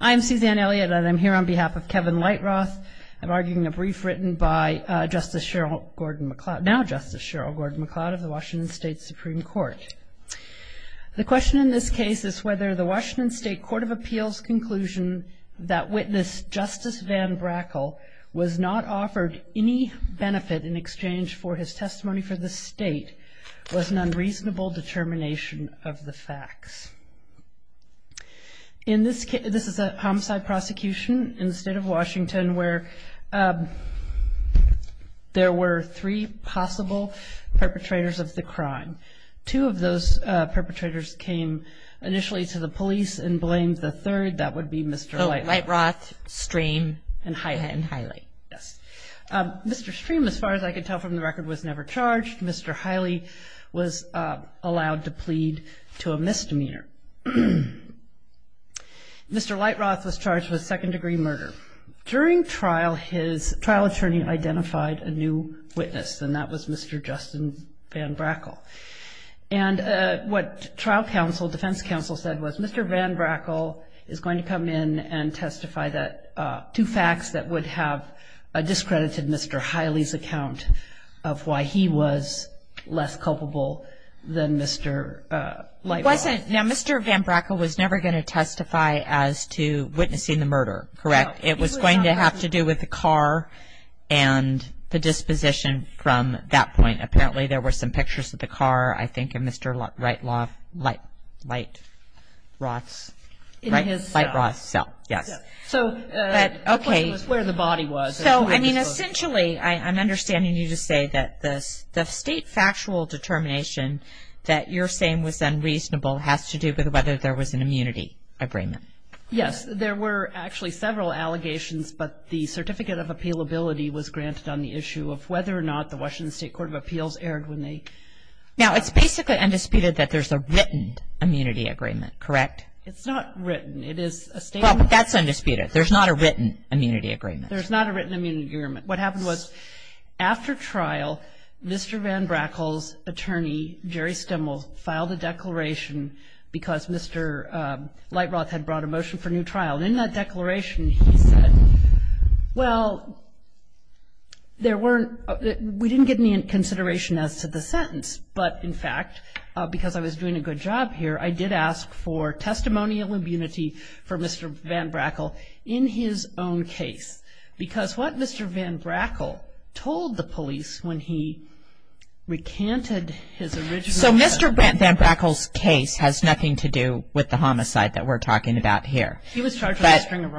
I'm Suzanne Elliott and I'm here on behalf of Kevin Light-Roth arguing a brief written by Justice Cheryl Gordon-McLeod, now Justice Cheryl Gordon-McLeod of the Washington State Supreme Court. The question in this case is whether the Washington State Court of Appeals conclusion that witness Justice Van Brackle was not offered any benefit in exchange for his testimony for the State was an unreasonable determination of the facts. In this case, this is a homicide prosecution in the state of Washington where there were three possible perpetrators of the crime. Two of those perpetrators came initially to the police and blamed the third. That would be Mr. Light-Roth. Light-Roth, Stream, and Hiley. Yes. Mr. Stream, as far as I could tell from the record, was never charged. Mr. Hiley was allowed to plead to a misdemeanor. Mr. Light-Roth was charged with second-degree murder. During trial, his trial attorney identified a new witness, and that was Mr. Justin Van Brackle. And what trial counsel, defense counsel, said was Mr. Van Brackle is going to come in and testify that two facts that would have discredited Mr. Hiley's account of why he was less culpable than Mr. Light-Roth. Now, Mr. Van Brackle was never going to testify as to witnessing the murder, correct? It was going to have to do with the car and the disposition from that point. Apparently, there were some pictures of the car, I think, in Mr. Light-Roth's cell. Yes. So the question was where the body was. So, I mean, essentially, I'm understanding you to say that the state factual determination that you're saying was unreasonable has to do with whether there was an immunity agreement. Yes. There were actually several allegations, but the certificate of appealability was granted on the issue of whether or not the Washington State Court of Appeals erred when they. Now, it's basically undisputed that there's a written immunity agreement, correct? It's not written. It is a statement. Well, that's undisputed. There's not a written immunity agreement. There's not a written immunity agreement. What happened was after trial, Mr. Van Brackle's attorney, Jerry Stemmel, filed a declaration because Mr. Light-Roth had brought a motion for new trial. And in that declaration, he said, well, there weren't, we didn't get any consideration as to the sentence. But, in fact, because I was doing a good job here, I did ask for testimonial immunity for Mr. Van Brackle in his own case. Because what Mr. Van Brackle told the police when he recanted his original. So Mr. Van Brackle's case has nothing to do with the homicide that we're talking about here.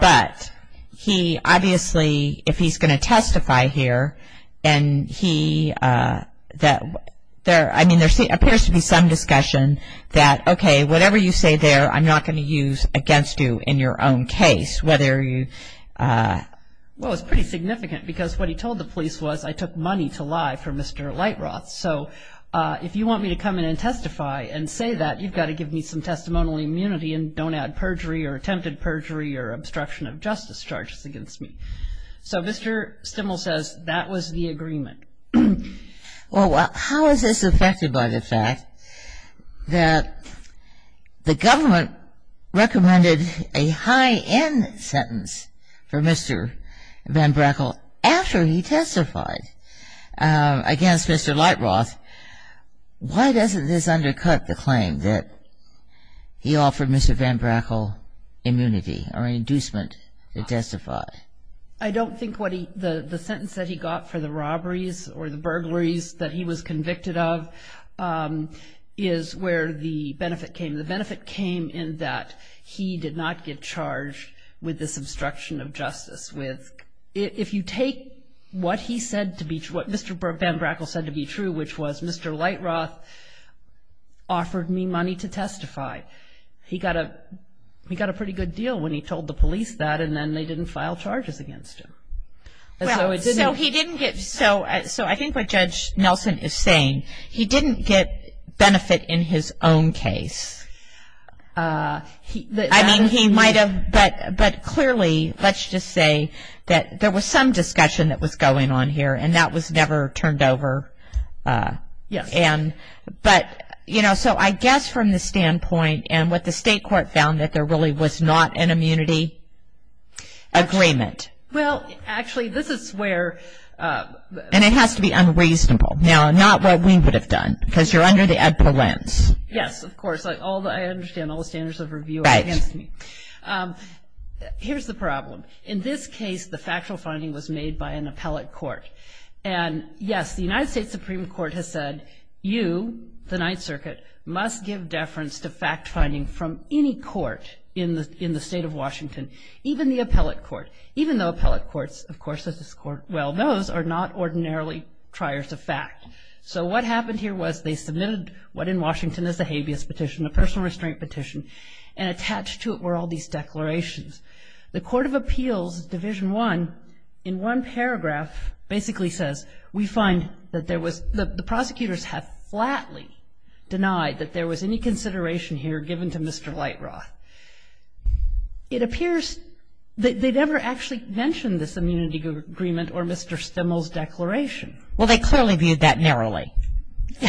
But he obviously, if he's going to testify here, and he, I mean there appears to be some discussion that, okay, whatever you say there, I'm not going to use against you in your own case, whether you. Well, it's pretty significant because what he told the police was, I took money to lie for Mr. Light-Roth. So if you want me to come in and testify and say that, you've got to give me some testimonial immunity and don't add perjury or attempted perjury or obstruction of justice charges against me. So Mr. Stimmel says that was the agreement. Well, how is this affected by the fact that the government recommended a high-end sentence for Mr. Van Brackle after he testified against Mr. Light-Roth? Why doesn't this undercut the claim that he offered Mr. Van Brackle immunity or an inducement to testify? I don't think what he, the sentence that he got for the robberies or the burglaries that he was convicted of is where the benefit came. The benefit came in that he did not get charged with this obstruction of justice. If you take what he said to be true, what Mr. Van Brackle said to be true, which was Mr. Light-Roth offered me money to testify, he got a pretty good deal when he told the police that, and then they didn't file charges against him. So he didn't get so I think what Judge Nelson is saying, he didn't get benefit in his own case. I mean, he might have, but clearly, let's just say that there was some discussion that was going on here, and that was never turned over. Yes. But, you know, so I guess from the standpoint and what the state court found that there really was not an immunity agreement. Well, actually, this is where... And it has to be unreasonable. Now, not what we would have done because you're under the EDPA lens. Yes, of course. I understand all the standards of review are against me. Right. Here's the problem. In this case, the factual finding was made by an appellate court. And, yes, the United States Supreme Court has said you, the Ninth Circuit, must give deference to fact-finding from any court in the state of Washington, even the appellate court, even though appellate courts, of course, as this Court well knows, are not ordinarily triers of fact. So what happened here was they submitted what in Washington is a habeas petition, a personal restraint petition, and attached to it were all these declarations. The Court of Appeals, Division I, in one paragraph basically says, we find that the prosecutors have flatly denied that there was any consideration here given to Mr. Lightroth. It appears that they never actually mentioned this immunity agreement or Mr. Stimmel's declaration. Well, they clearly viewed that narrowly.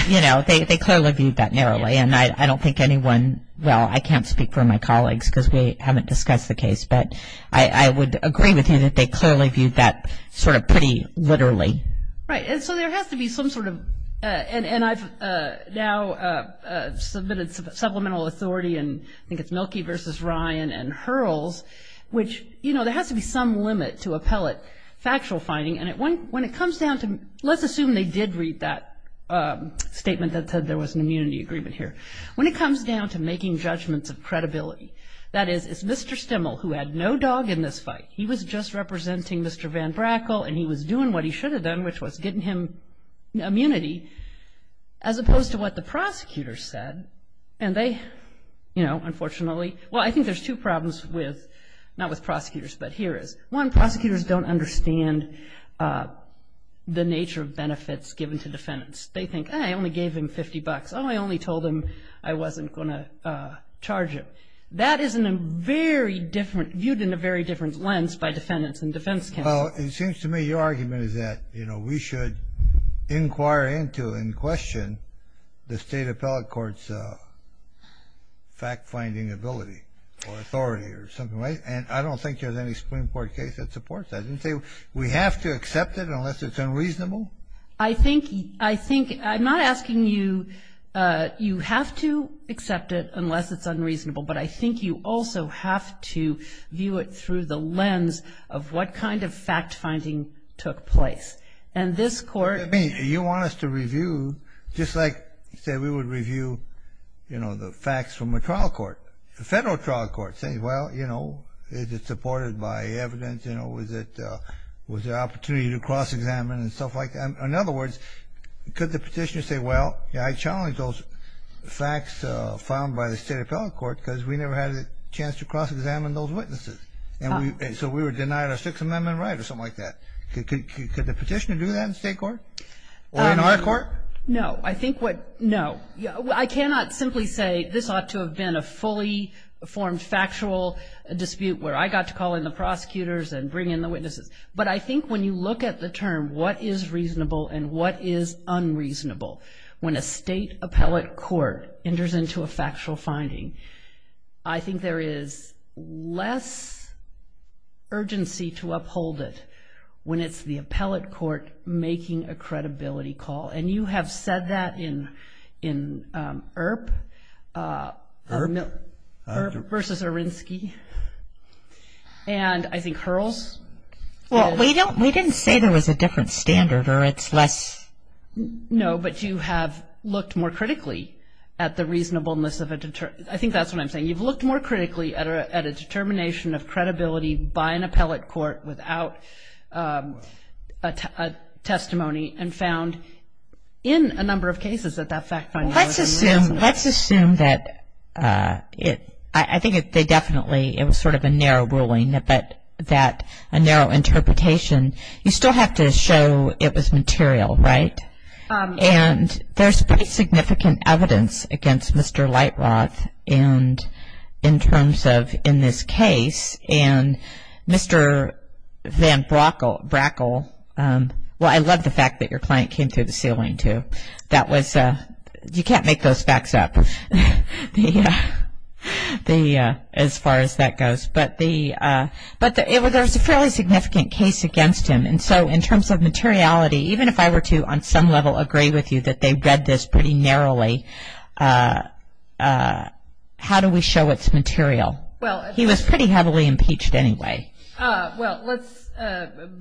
You know, they clearly viewed that narrowly. And I don't think anyone, well, I can't speak for my colleagues because we haven't discussed the case, but I would agree with you that they clearly viewed that sort of pretty literally. Right. And so there has to be some sort of, and I've now submitted supplemental authority, and I think it's Mielke versus Ryan and Hurls, which, you know, there has to be some limit to appellate factual finding. And when it comes down to, let's assume they did read that statement that said there was an immunity agreement here. When it comes down to making judgments of credibility, that is it's Mr. Stimmel who had no dog in this fight. He was just representing Mr. Van Brackle, and he was doing what he should have done, which was getting him immunity, as opposed to what the prosecutors said. And they, you know, unfortunately, well, I think there's two problems with, not with prosecutors, but here is. One, prosecutors don't understand the nature of benefits given to defendants. They think, I only gave him $50. Oh, I only told him I wasn't going to charge him. That is viewed in a very different lens by defendants and defense counsel. Well, it seems to me your argument is that, you know, we should inquire into and question the state appellate court's fact-finding ability or authority or something. Right? And I don't think there's any Supreme Court case that supports that. You say we have to accept it unless it's unreasonable? I think, I think, I'm not asking you, you have to accept it unless it's unreasonable, but I think you also have to view it through the lens of what kind of fact-finding took place. And this Court. I mean, you want us to review, just like, say, we would review, you know, the facts from a trial court. A federal trial court saying, well, you know, is it supported by evidence? You know, was it, was there opportunity to cross-examine and stuff like that? In other words, could the petitioner say, well, yeah, I challenged those facts found by the state appellate court because we never had a chance to cross-examine those witnesses. And so we were denied our Sixth Amendment right or something like that. Could the petitioner do that in state court or in our court? No. I think what, no. I cannot simply say this ought to have been a fully formed factual dispute where I got to call in the prosecutors and bring in the witnesses. But I think when you look at the term what is reasonable and what is unreasonable, when a state appellate court enters into a factual finding, I think there is less urgency to uphold it when it's the appellate court making a credibility call. And you have said that in IRP. IRP? IRP versus Arinsky. And I think Hurls. Well, we didn't say there was a different standard or it's less. No, but you have looked more critically at the reasonableness of a, I think that's what I'm saying. You've looked more critically at a determination of credibility by an appellate court without a testimony and found in a number of cases that that fact finding was unreasonable. Let's assume that it, I think they definitely, it was sort of a narrow ruling, but that a narrow interpretation, you still have to show it was material, right? And there's pretty significant evidence against Mr. Lightroth in terms of in this case. And Mr. Van Brackle, well, I love the fact that your client came through the ceiling too. That was, you can't make those facts up as far as that goes. But there was a fairly significant case against him. And so in terms of materiality, even if I were to on some level agree with you that they read this pretty narrowly, how do we show it's material? Well, he was pretty heavily impeached anyway. Well, let's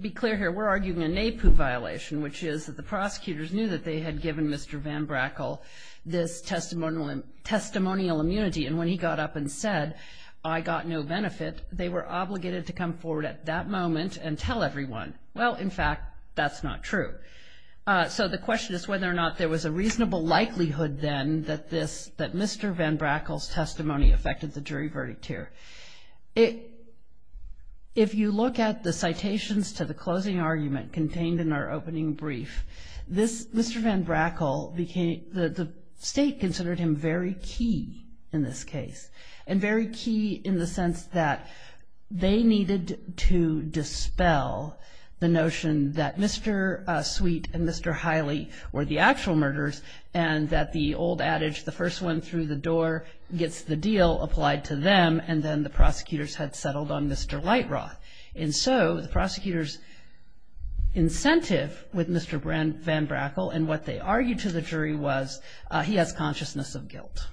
be clear here. We're arguing a NAEPU violation, which is that the prosecutors knew that they had given Mr. Van Brackle this testimonial immunity. And when he got up and said, I got no benefit, they were obligated to come forward at that moment and tell everyone. Well, in fact, that's not true. So the question is whether or not there was a reasonable likelihood then that this, that Mr. Van Brackle's testimony affected the jury verdict here. If you look at the citations to the closing argument contained in our opening brief, Mr. Van Brackle became, the state considered him very key in this case, and very key in the sense that they needed to dispel the notion that Mr. Sweet and Mr. Hiley were the actual murders and that the old adage, the first one through the door gets the deal applied to them, and then the prosecutors had settled on Mr. Lightroth. And so the prosecutors' incentive with Mr. Van Brackle and what they argued to the jury was he has consciousness of guilt.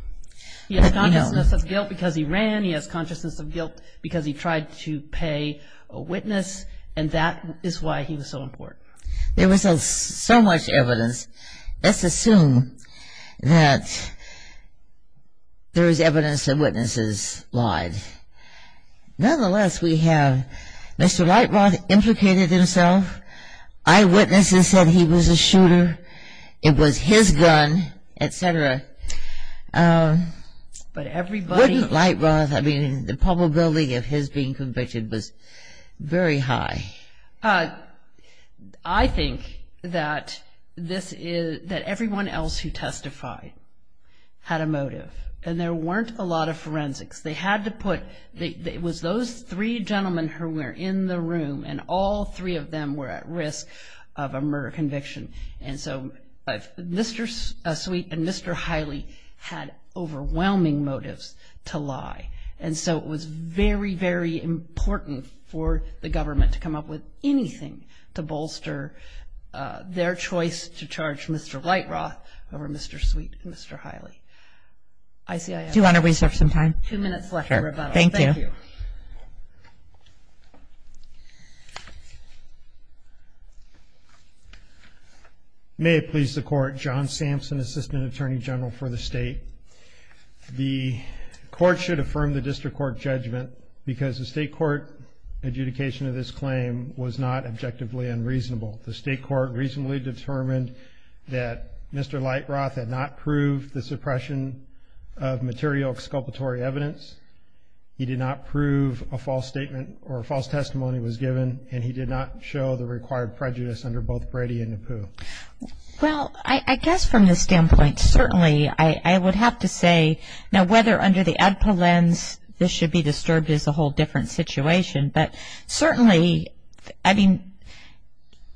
He has consciousness of guilt because he ran, he has consciousness of guilt because he tried to pay a witness, and that is why he was so important. There was so much evidence. Let's assume that there is evidence that witnesses lied. Nonetheless, we have Mr. Lightroth implicated himself. Eyewitnesses said he was a shooter. It was his gun, et cetera. Wouldn't Lightroth, I mean, the probability of his being convicted was very high. I think that this is, that everyone else who testified had a motive, and there weren't a lot of forensics. They had to put, it was those three gentlemen who were in the room, and all three of them were at risk of a murder conviction. And so Mr. Sweet and Mr. Hiley had overwhelming motives to lie. And so it was very, very important for the government to come up with anything to bolster their choice to charge Mr. Lightroth over Mr. Sweet and Mr. Hiley. Do you want to reserve some time? Two minutes left. Thank you. Thank you. May it please the Court, John Sampson, Assistant Attorney General for the State. The Court should affirm the district court judgment because the state court adjudication of this claim was not objectively unreasonable. The state court reasonably determined that Mr. Lightroth had not proved the suppression of material exculpatory evidence. He did not prove a false statement or a false testimony was given, and he did not show the required prejudice under both Brady and Napoo. Well, I guess from the standpoint, certainly, I would have to say, now whether under the ADPA lens this should be disturbed is a whole different situation, but certainly, I mean,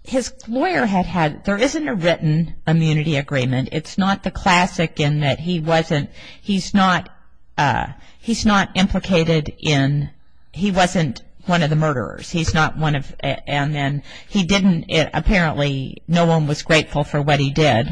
his lawyer had had, there isn't a written immunity agreement. It's not the classic in that he wasn't, he's not implicated in, he wasn't one of the murderers. He's not one of, and then he didn't, apparently, no one was grateful for what he did,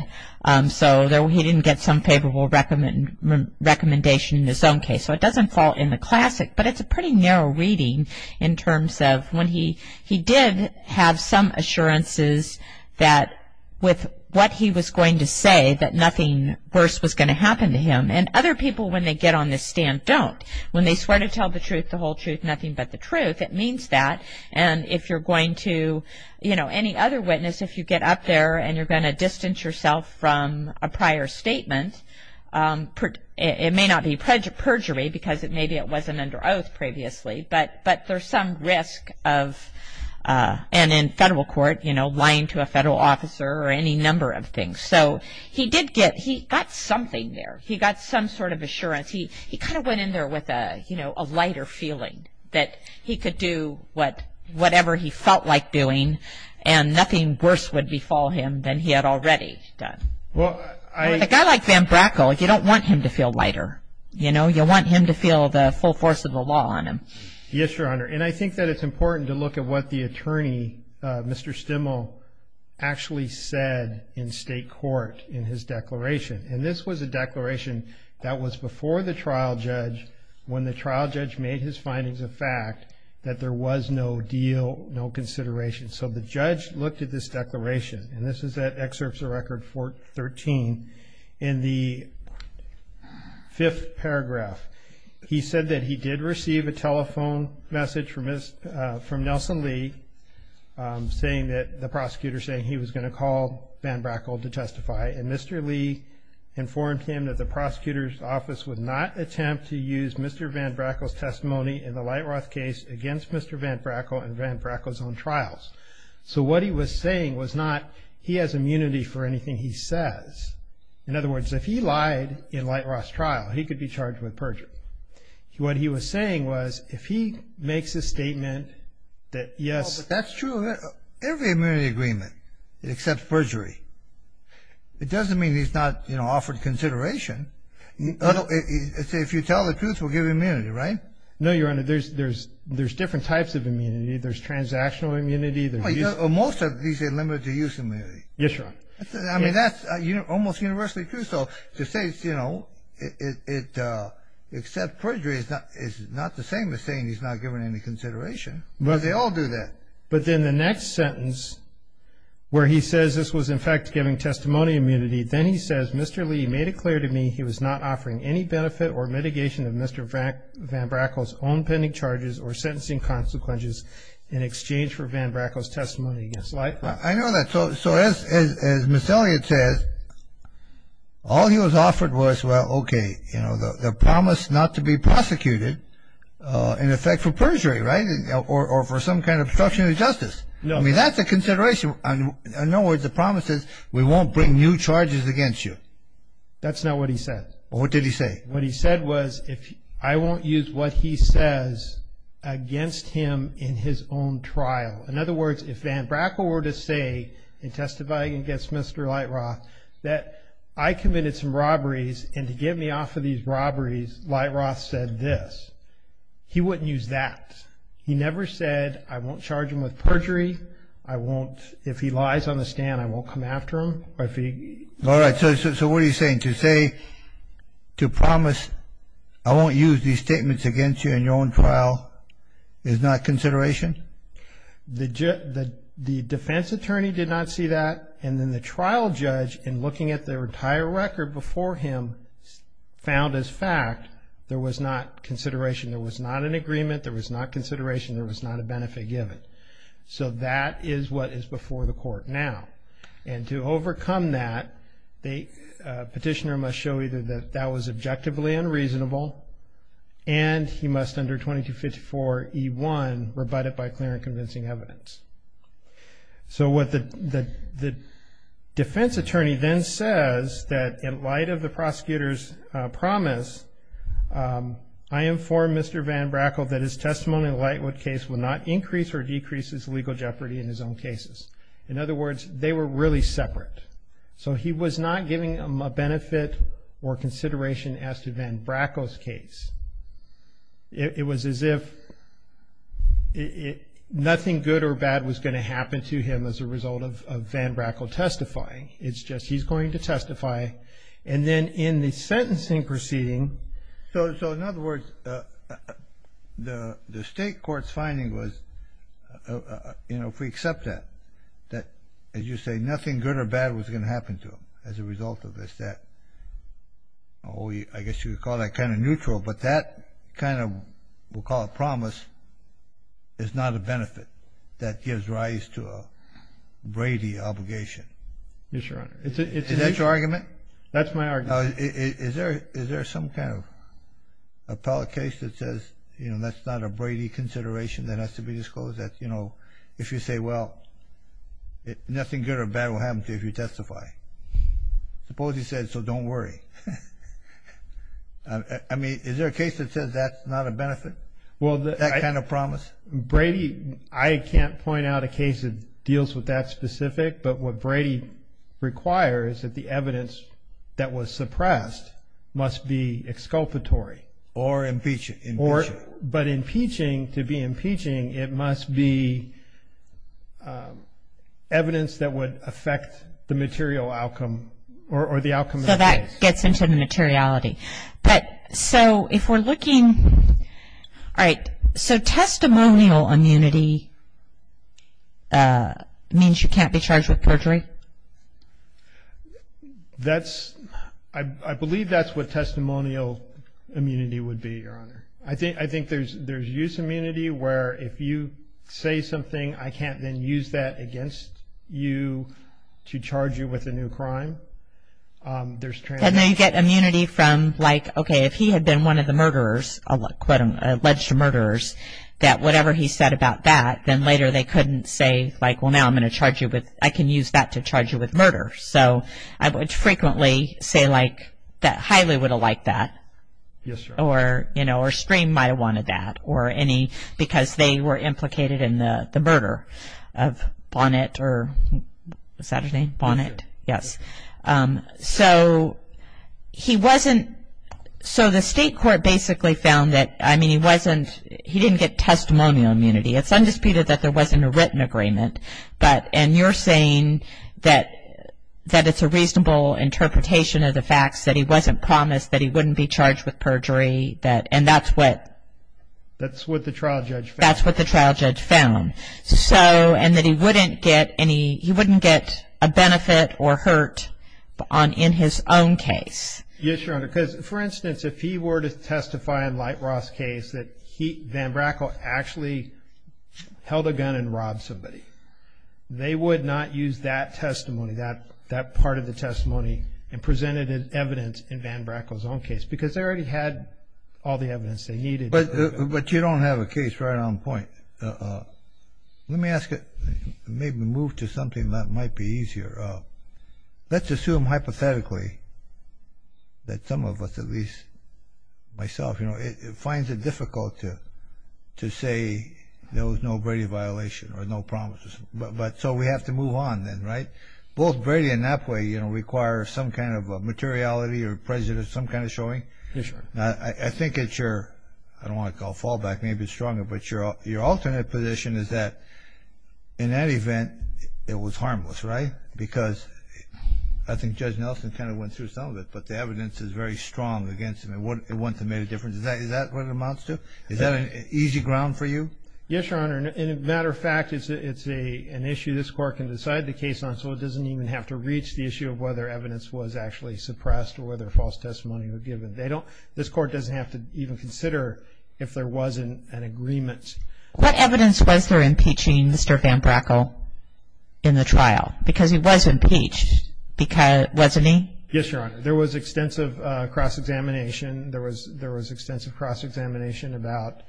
so he didn't get some favorable recommendation in his own case. So it doesn't fall in the classic, but it's a pretty narrow reading in terms of when he, he did have some assurances that with what he was going to say, that nothing worse was going to happen to him, and other people, when they get on this stand, don't. When they swear to tell the truth, the whole truth, nothing but the truth, it means that, and if you're going to, you know, any other witness, if you get up there and you're going to distance yourself from a prior statement, it may not be perjury because maybe it wasn't under oath previously, but there's some risk of, and in federal court, you know, lying to a federal officer or any number of things. So he did get, he got something there. He got some sort of assurance. He kind of went in there with a, you know, a lighter feeling that he could do whatever he felt like doing and nothing worse would befall him than he had already done. With a guy like Van Brackle, you don't want him to feel lighter. You know, you want him to feel the full force of the law on him. Yes, Your Honor, and I think that it's important to look at what the attorney, Mr. Stimmel, actually said in state court in his declaration, and this was a declaration that was before the trial judge when the trial judge made his findings a fact that there was no deal, no consideration. So the judge looked at this declaration, and this is at Excerpts of Record 13. In the fifth paragraph, he said that he did receive a telephone message from Nelson Lee saying that, the prosecutor saying he was going to call Van Brackle to testify, and Mr. Lee informed him that the prosecutor's office would not attempt to use Mr. Van Brackle's testimony in the Lightroth case against Mr. Van Brackle in Van Brackle's own trials. So what he was saying was not he has immunity for anything he says. In other words, if he lied in Lightroth's trial, he could be charged with perjury. What he was saying was if he makes a statement that, yes. That's true. Every immunity agreement, it accepts perjury. It doesn't mean he's not, you know, offered consideration. If you tell the truth, we'll give you immunity, right? No, Your Honor. There's different types of immunity. There's transactional immunity. Most of these are limited-to-use immunity. Yes, Your Honor. I mean, that's almost universally true. So to say, you know, it accepts perjury is not the same as saying he's not given any consideration. They all do that. But then the next sentence where he says this was, in fact, giving testimony immunity, then he says, Mr. Lee made it clear to me he was not offering any benefit or mitigation of Mr. Van Brackle's own pending charges or sentencing consequences in exchange for Van Brackle's testimony against Lightroth. I know that. So as Ms. Elliott says, all he was offered was, well, okay, you know, the promise not to be prosecuted, in effect, for perjury, right, or for some kind of obstruction of justice. No. I mean, that's a consideration. In other words, the promise is we won't bring new charges against you. That's not what he said. What did he say? What he said was I won't use what he says against him in his own trial. In other words, if Van Brackle were to say in testifying against Mr. Lightroth that I committed some robberies and to get me off of these robberies, Lightroth said this, he wouldn't use that. He never said I won't charge him with perjury. I won't, if he lies on the stand, I won't come after him. All right. So what are you saying? To say, to promise I won't use these statements against you in your own trial is not consideration? The defense attorney did not see that, and then the trial judge, in looking at the entire record before him, found as fact there was not consideration. There was not an agreement. There was not consideration. There was not a benefit given. So that is what is before the court now. And to overcome that, the petitioner must show either that that was objectively unreasonable and he must under 2254E1 rebut it by clear and convincing evidence. So what the defense attorney then says that in light of the prosecutor's promise, I inform Mr. Van Brackle that his testimony in the Lightroth case will not increase or decrease his legal jeopardy in his own cases. In other words, they were really separate. So he was not giving a benefit or consideration as to Van Brackle's case. It was as if nothing good or bad was going to happen to him as a result of Van Brackle testifying. It's just he's going to testify. And then in the sentencing proceeding. So in other words, the state court's finding was, you know, if we accept that, that as you say nothing good or bad was going to happen to him as a result of this, I guess you would call that kind of neutral. But that kind of we'll call a promise is not a benefit that gives rise to a Brady obligation. Yes, Your Honor. Is that your argument? That's my argument. Is there some kind of appellate case that says, you know, that's not a Brady consideration that has to be disclosed that, you know, if you say, well, nothing good or bad will happen to you if you testify. Suppose he says, so don't worry. I mean, is there a case that says that's not a benefit, that kind of promise? Brady, I can't point out a case that deals with that specific, but what Brady requires that the evidence that was suppressed must be exculpatory. Or impeachment. But impeaching, to be impeaching, it must be evidence that would affect the material outcome or the outcome of the case. So that gets into the materiality. But so if we're looking, all right, so testimonial immunity means you can't be charged with perjury? That's, I believe that's what testimonial immunity would be, Your Honor. I think there's use immunity where if you say something, I can't then use that against you to charge you with a new crime. And then you get immunity from, like, okay, if he had been one of the murderers, alleged murderers, that whatever he said about that, then later they couldn't say, like, well, now I'm going to charge you with, I can use that to charge you with murder. So I would frequently say, like, that Hiley would have liked that. Yes, Your Honor. Or, you know, or Stream might have wanted that. Or any, because they were implicated in the murder of Bonnet or, what's that his name? Bonnet. Bonnet, yes. So he wasn't, so the state court basically found that, I mean, he wasn't, he didn't get testimonial immunity. It's undisputed that there wasn't a written agreement. But, and you're saying that it's a reasonable interpretation of the facts, that he wasn't promised that he wouldn't be charged with perjury, that, and that's what? That's what the trial judge found. That's what the trial judge found. So, and that he wouldn't get any, he wouldn't get a benefit or hurt in his own case. Yes, Your Honor, because, for instance, if he were to testify in Light Roth's case that Van Brackle actually held a gun and robbed somebody, they would not use that testimony, that part of the testimony, and present it as evidence in Van Brackle's own case, because they already had all the evidence they needed. But you don't have a case right on point. Let me ask you, maybe move to something that might be easier. Let's assume, hypothetically, that some of us, at least myself, finds it difficult to say there was no Brady violation or no promises. So we have to move on then, right? Both Brady and Napoli require some kind of materiality or presence, some kind of showing. Yes, Your Honor. I think it's your, I don't want to call it fallback, maybe it's stronger, but your alternate position is that, in that event, it was harmless, right? Because I think Judge Nelson kind of went through some of it, but the evidence is very strong against him. It wouldn't have made a difference. Is that what it amounts to? Is that an easy ground for you? Yes, Your Honor. As a matter of fact, it's an issue this Court can decide the case on, so it doesn't even have to reach the issue of whether evidence was actually suppressed or whether false testimony was given. They don't, this Court doesn't have to even consider if there was an agreement. What evidence was there impeaching Mr. Van Brackle in the trial? Because he was impeached, wasn't he? Yes, Your Honor. There was extensive cross-examination. There was extensive cross-examination about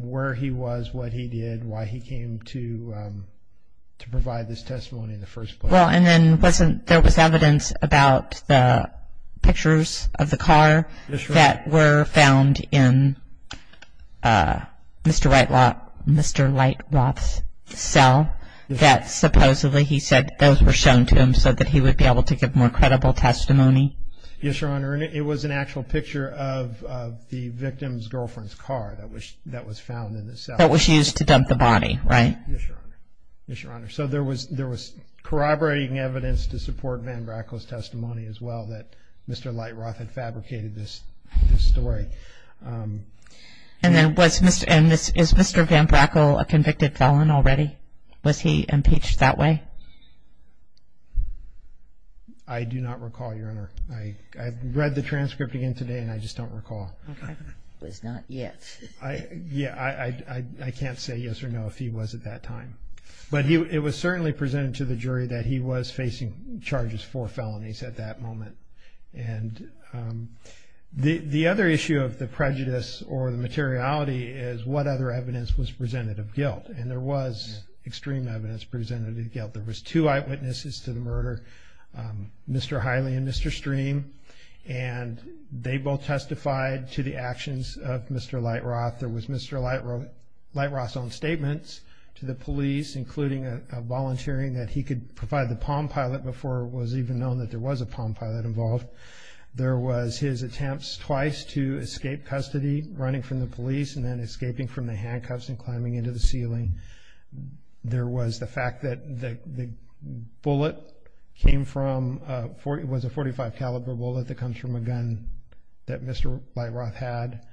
where he was, what he did, why he came to provide this testimony in the first place. Well, and then wasn't, there was evidence about the pictures of the car that were found in Mr. Lightloth's cell that supposedly he said those were shown to him so that he would be able to give more credible testimony? Yes, Your Honor, and it was an actual picture of the victim's girlfriend's car that was found in the cell. That was used to dump the body, right? Yes, Your Honor. Yes, Your Honor. So there was corroborating evidence to support Van Brackle's testimony as well that Mr. Lightloth had fabricated this story. And then was Mr. Van Brackle a convicted felon already? Was he impeached that way? I do not recall, Your Honor. I read the transcript again today, and I just don't recall. Okay. It was not yet. Yeah, I can't say yes or no if he was at that time. But it was certainly presented to the jury that he was facing charges for felonies at that moment. The other issue of the prejudice or the materiality is what other evidence was presented of guilt, and there was extreme evidence presented of guilt. There was two eyewitnesses to the murder, Mr. Hiley and Mr. Stream, and they both testified to the actions of Mr. Lightloth. There was Mr. Lightloth's own statements to the police, including a volunteering that he could provide the Palm Pilot before it was even known that there was a Palm Pilot involved. There was his attempts twice to escape custody, running from the police and then escaping from the handcuffs and climbing into the ceiling. There was the fact that the bullet came from a... It was a .45 caliber bullet that comes from a gun that Mr. Lightloth had.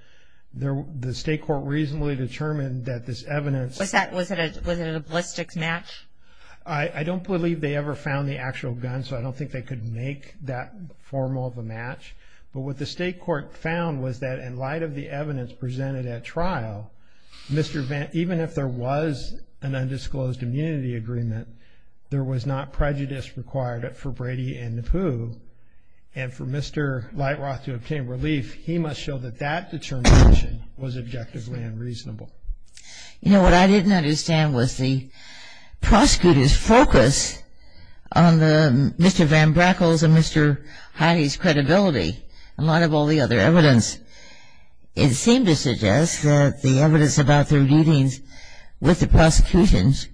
The state court reasonably determined that this evidence... Was it a ballistic match? I don't believe they ever found the actual gun, so I don't think they could make that formal of a match. But what the state court found was that in light of the evidence presented at trial, even if there was an undisclosed immunity agreement, there was not prejudice required for Brady and Napoo, and for Mr. Lightloth to obtain relief, he must show that that determination was objectively unreasonable. You know, what I didn't understand was the prosecutor's focus on Mr. Van Brackle's and Mr. Hiley's credibility, in light of all the other evidence. It seemed to suggest that the evidence about their meetings with the prosecutions...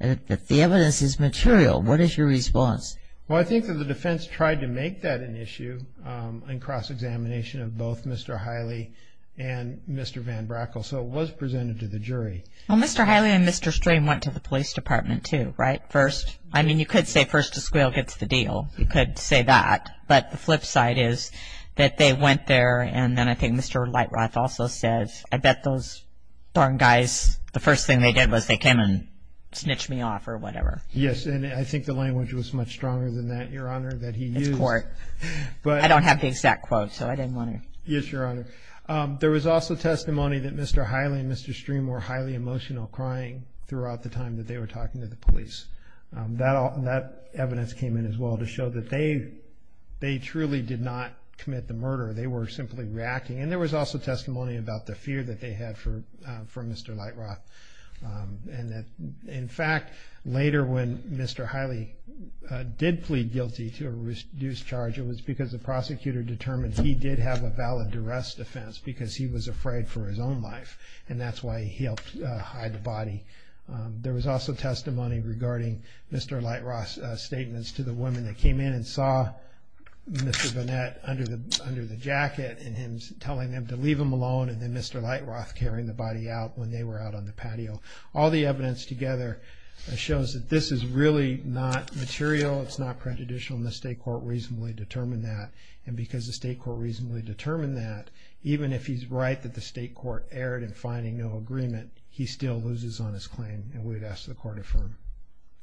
That the evidence is material. What is your response? Well, I think that the defense tried to make that an issue in cross-examination of both Mr. Hiley and Mr. Van Brackle, so it was presented to the jury. Well, Mr. Hiley and Mr. Strain went to the police department, too, right? First... I mean, you could say first to squeal gets the deal. You could say that. But the flip side is that they went there, and then I think Mr. Lightloth also said, I bet those darn guys, the first thing they did was they came and snitched me off or whatever. Yes, and I think the language was much stronger than that, Your Honor, that he used. It's court. I don't have the exact quote, so I didn't want to... Yes, Your Honor. There was also testimony that Mr. Hiley and Mr. Strain were highly emotional, crying throughout the time that they were talking to the police. That evidence came in as well to show that they truly did not commit the murder. They were simply reacting. And there was also testimony about the fear that they had for Mr. Lightloth, and that, in fact, later when Mr. Hiley did plead guilty to a reduced charge, it was because the prosecutor determined he did have a valid arrest offense because he was afraid for his own life, and that's why he helped hide the body. There was also testimony regarding Mr. Lightloth's statements to the women that came in and saw Mr. Burnett under the jacket, and him telling them to leave him alone, and then Mr. Lightloth carrying the body out when they were out on the patio. All the evidence together shows that this is really not material. It's not prejudicial, and the state court reasonably determined that. And because the state court reasonably determined that, even if he's right that the state court erred in finding no agreement, he still loses on his claim, and we'd ask the court to affirm.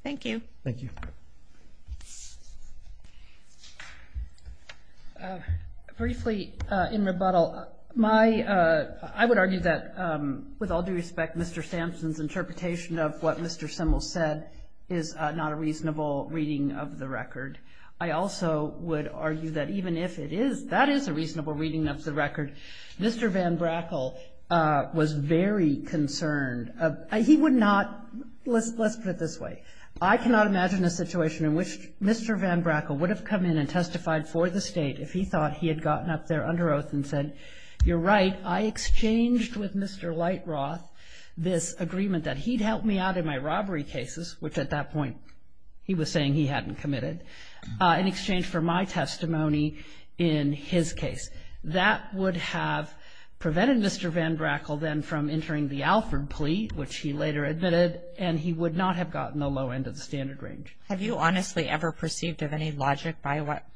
Thank you. Thank you. Briefly, in rebuttal, I would argue that, with all due respect, Mr. Sampson's interpretation of what Mr. Simmel said is not a reasonable reading of the record. I also would argue that even if it is, that is a reasonable reading of the record. Mr. Van Brackle was very concerned. He would not – let's put it this way. I cannot imagine a situation in which Mr. Van Brackle would have come in and testified for the state if he thought he had gotten up there under oath and said, you're right, I exchanged with Mr. Lightloth this agreement that he'd help me out in my robbery cases, which at that point he was saying he hadn't committed, in exchange for my testimony in his case. That would have prevented Mr. Van Brackle then from entering the Alford plea, which he later admitted, and he would not have gotten the low end of the standard range. Have you honestly ever perceived of any logic by what –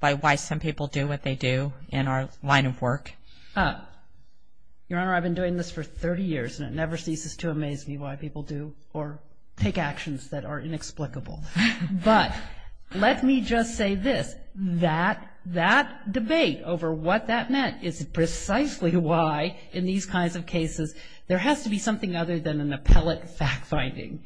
by why some people do what they do in our line of work? Your Honor, I've been doing this for 30 years, and it never ceases to amaze me why people do or take actions that are inexplicable. But let me just say this. That debate over what that meant is precisely why in these kinds of cases there has to be something other than an appellate fact-finding.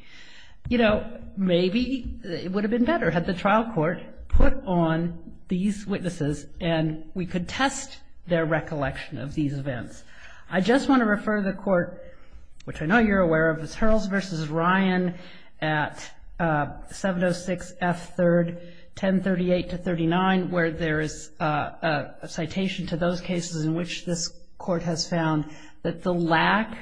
You know, maybe it would have been better had the trial court put on these witnesses and we could test their recollection of these events. I just want to refer the Court, which I know you're aware of, to Ms. Hurls v. Ryan at 706 F. 3rd, 1038-39, where there is a citation to those cases in which this Court has found that the lack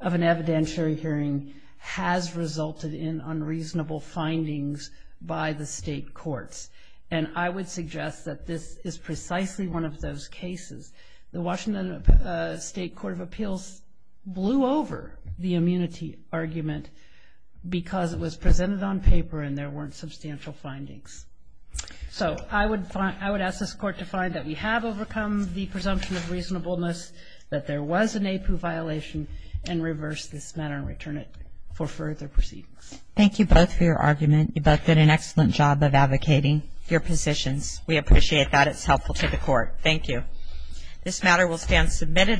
of an evidentiary hearing has resulted in unreasonable findings by the state courts. And I would suggest that this is precisely one of those cases. The Washington State Court of Appeals blew over the immunity argument because it was presented on paper and there weren't substantial findings. So I would ask this Court to find that we have overcome the presumption of reasonableness, that there was an APU violation, and reverse this matter and return it for further proceedings. Thank you both for your argument. You both did an excellent job of advocating your positions. We appreciate that. It's helpful to the Court. Thank you. This matter will stand submitted.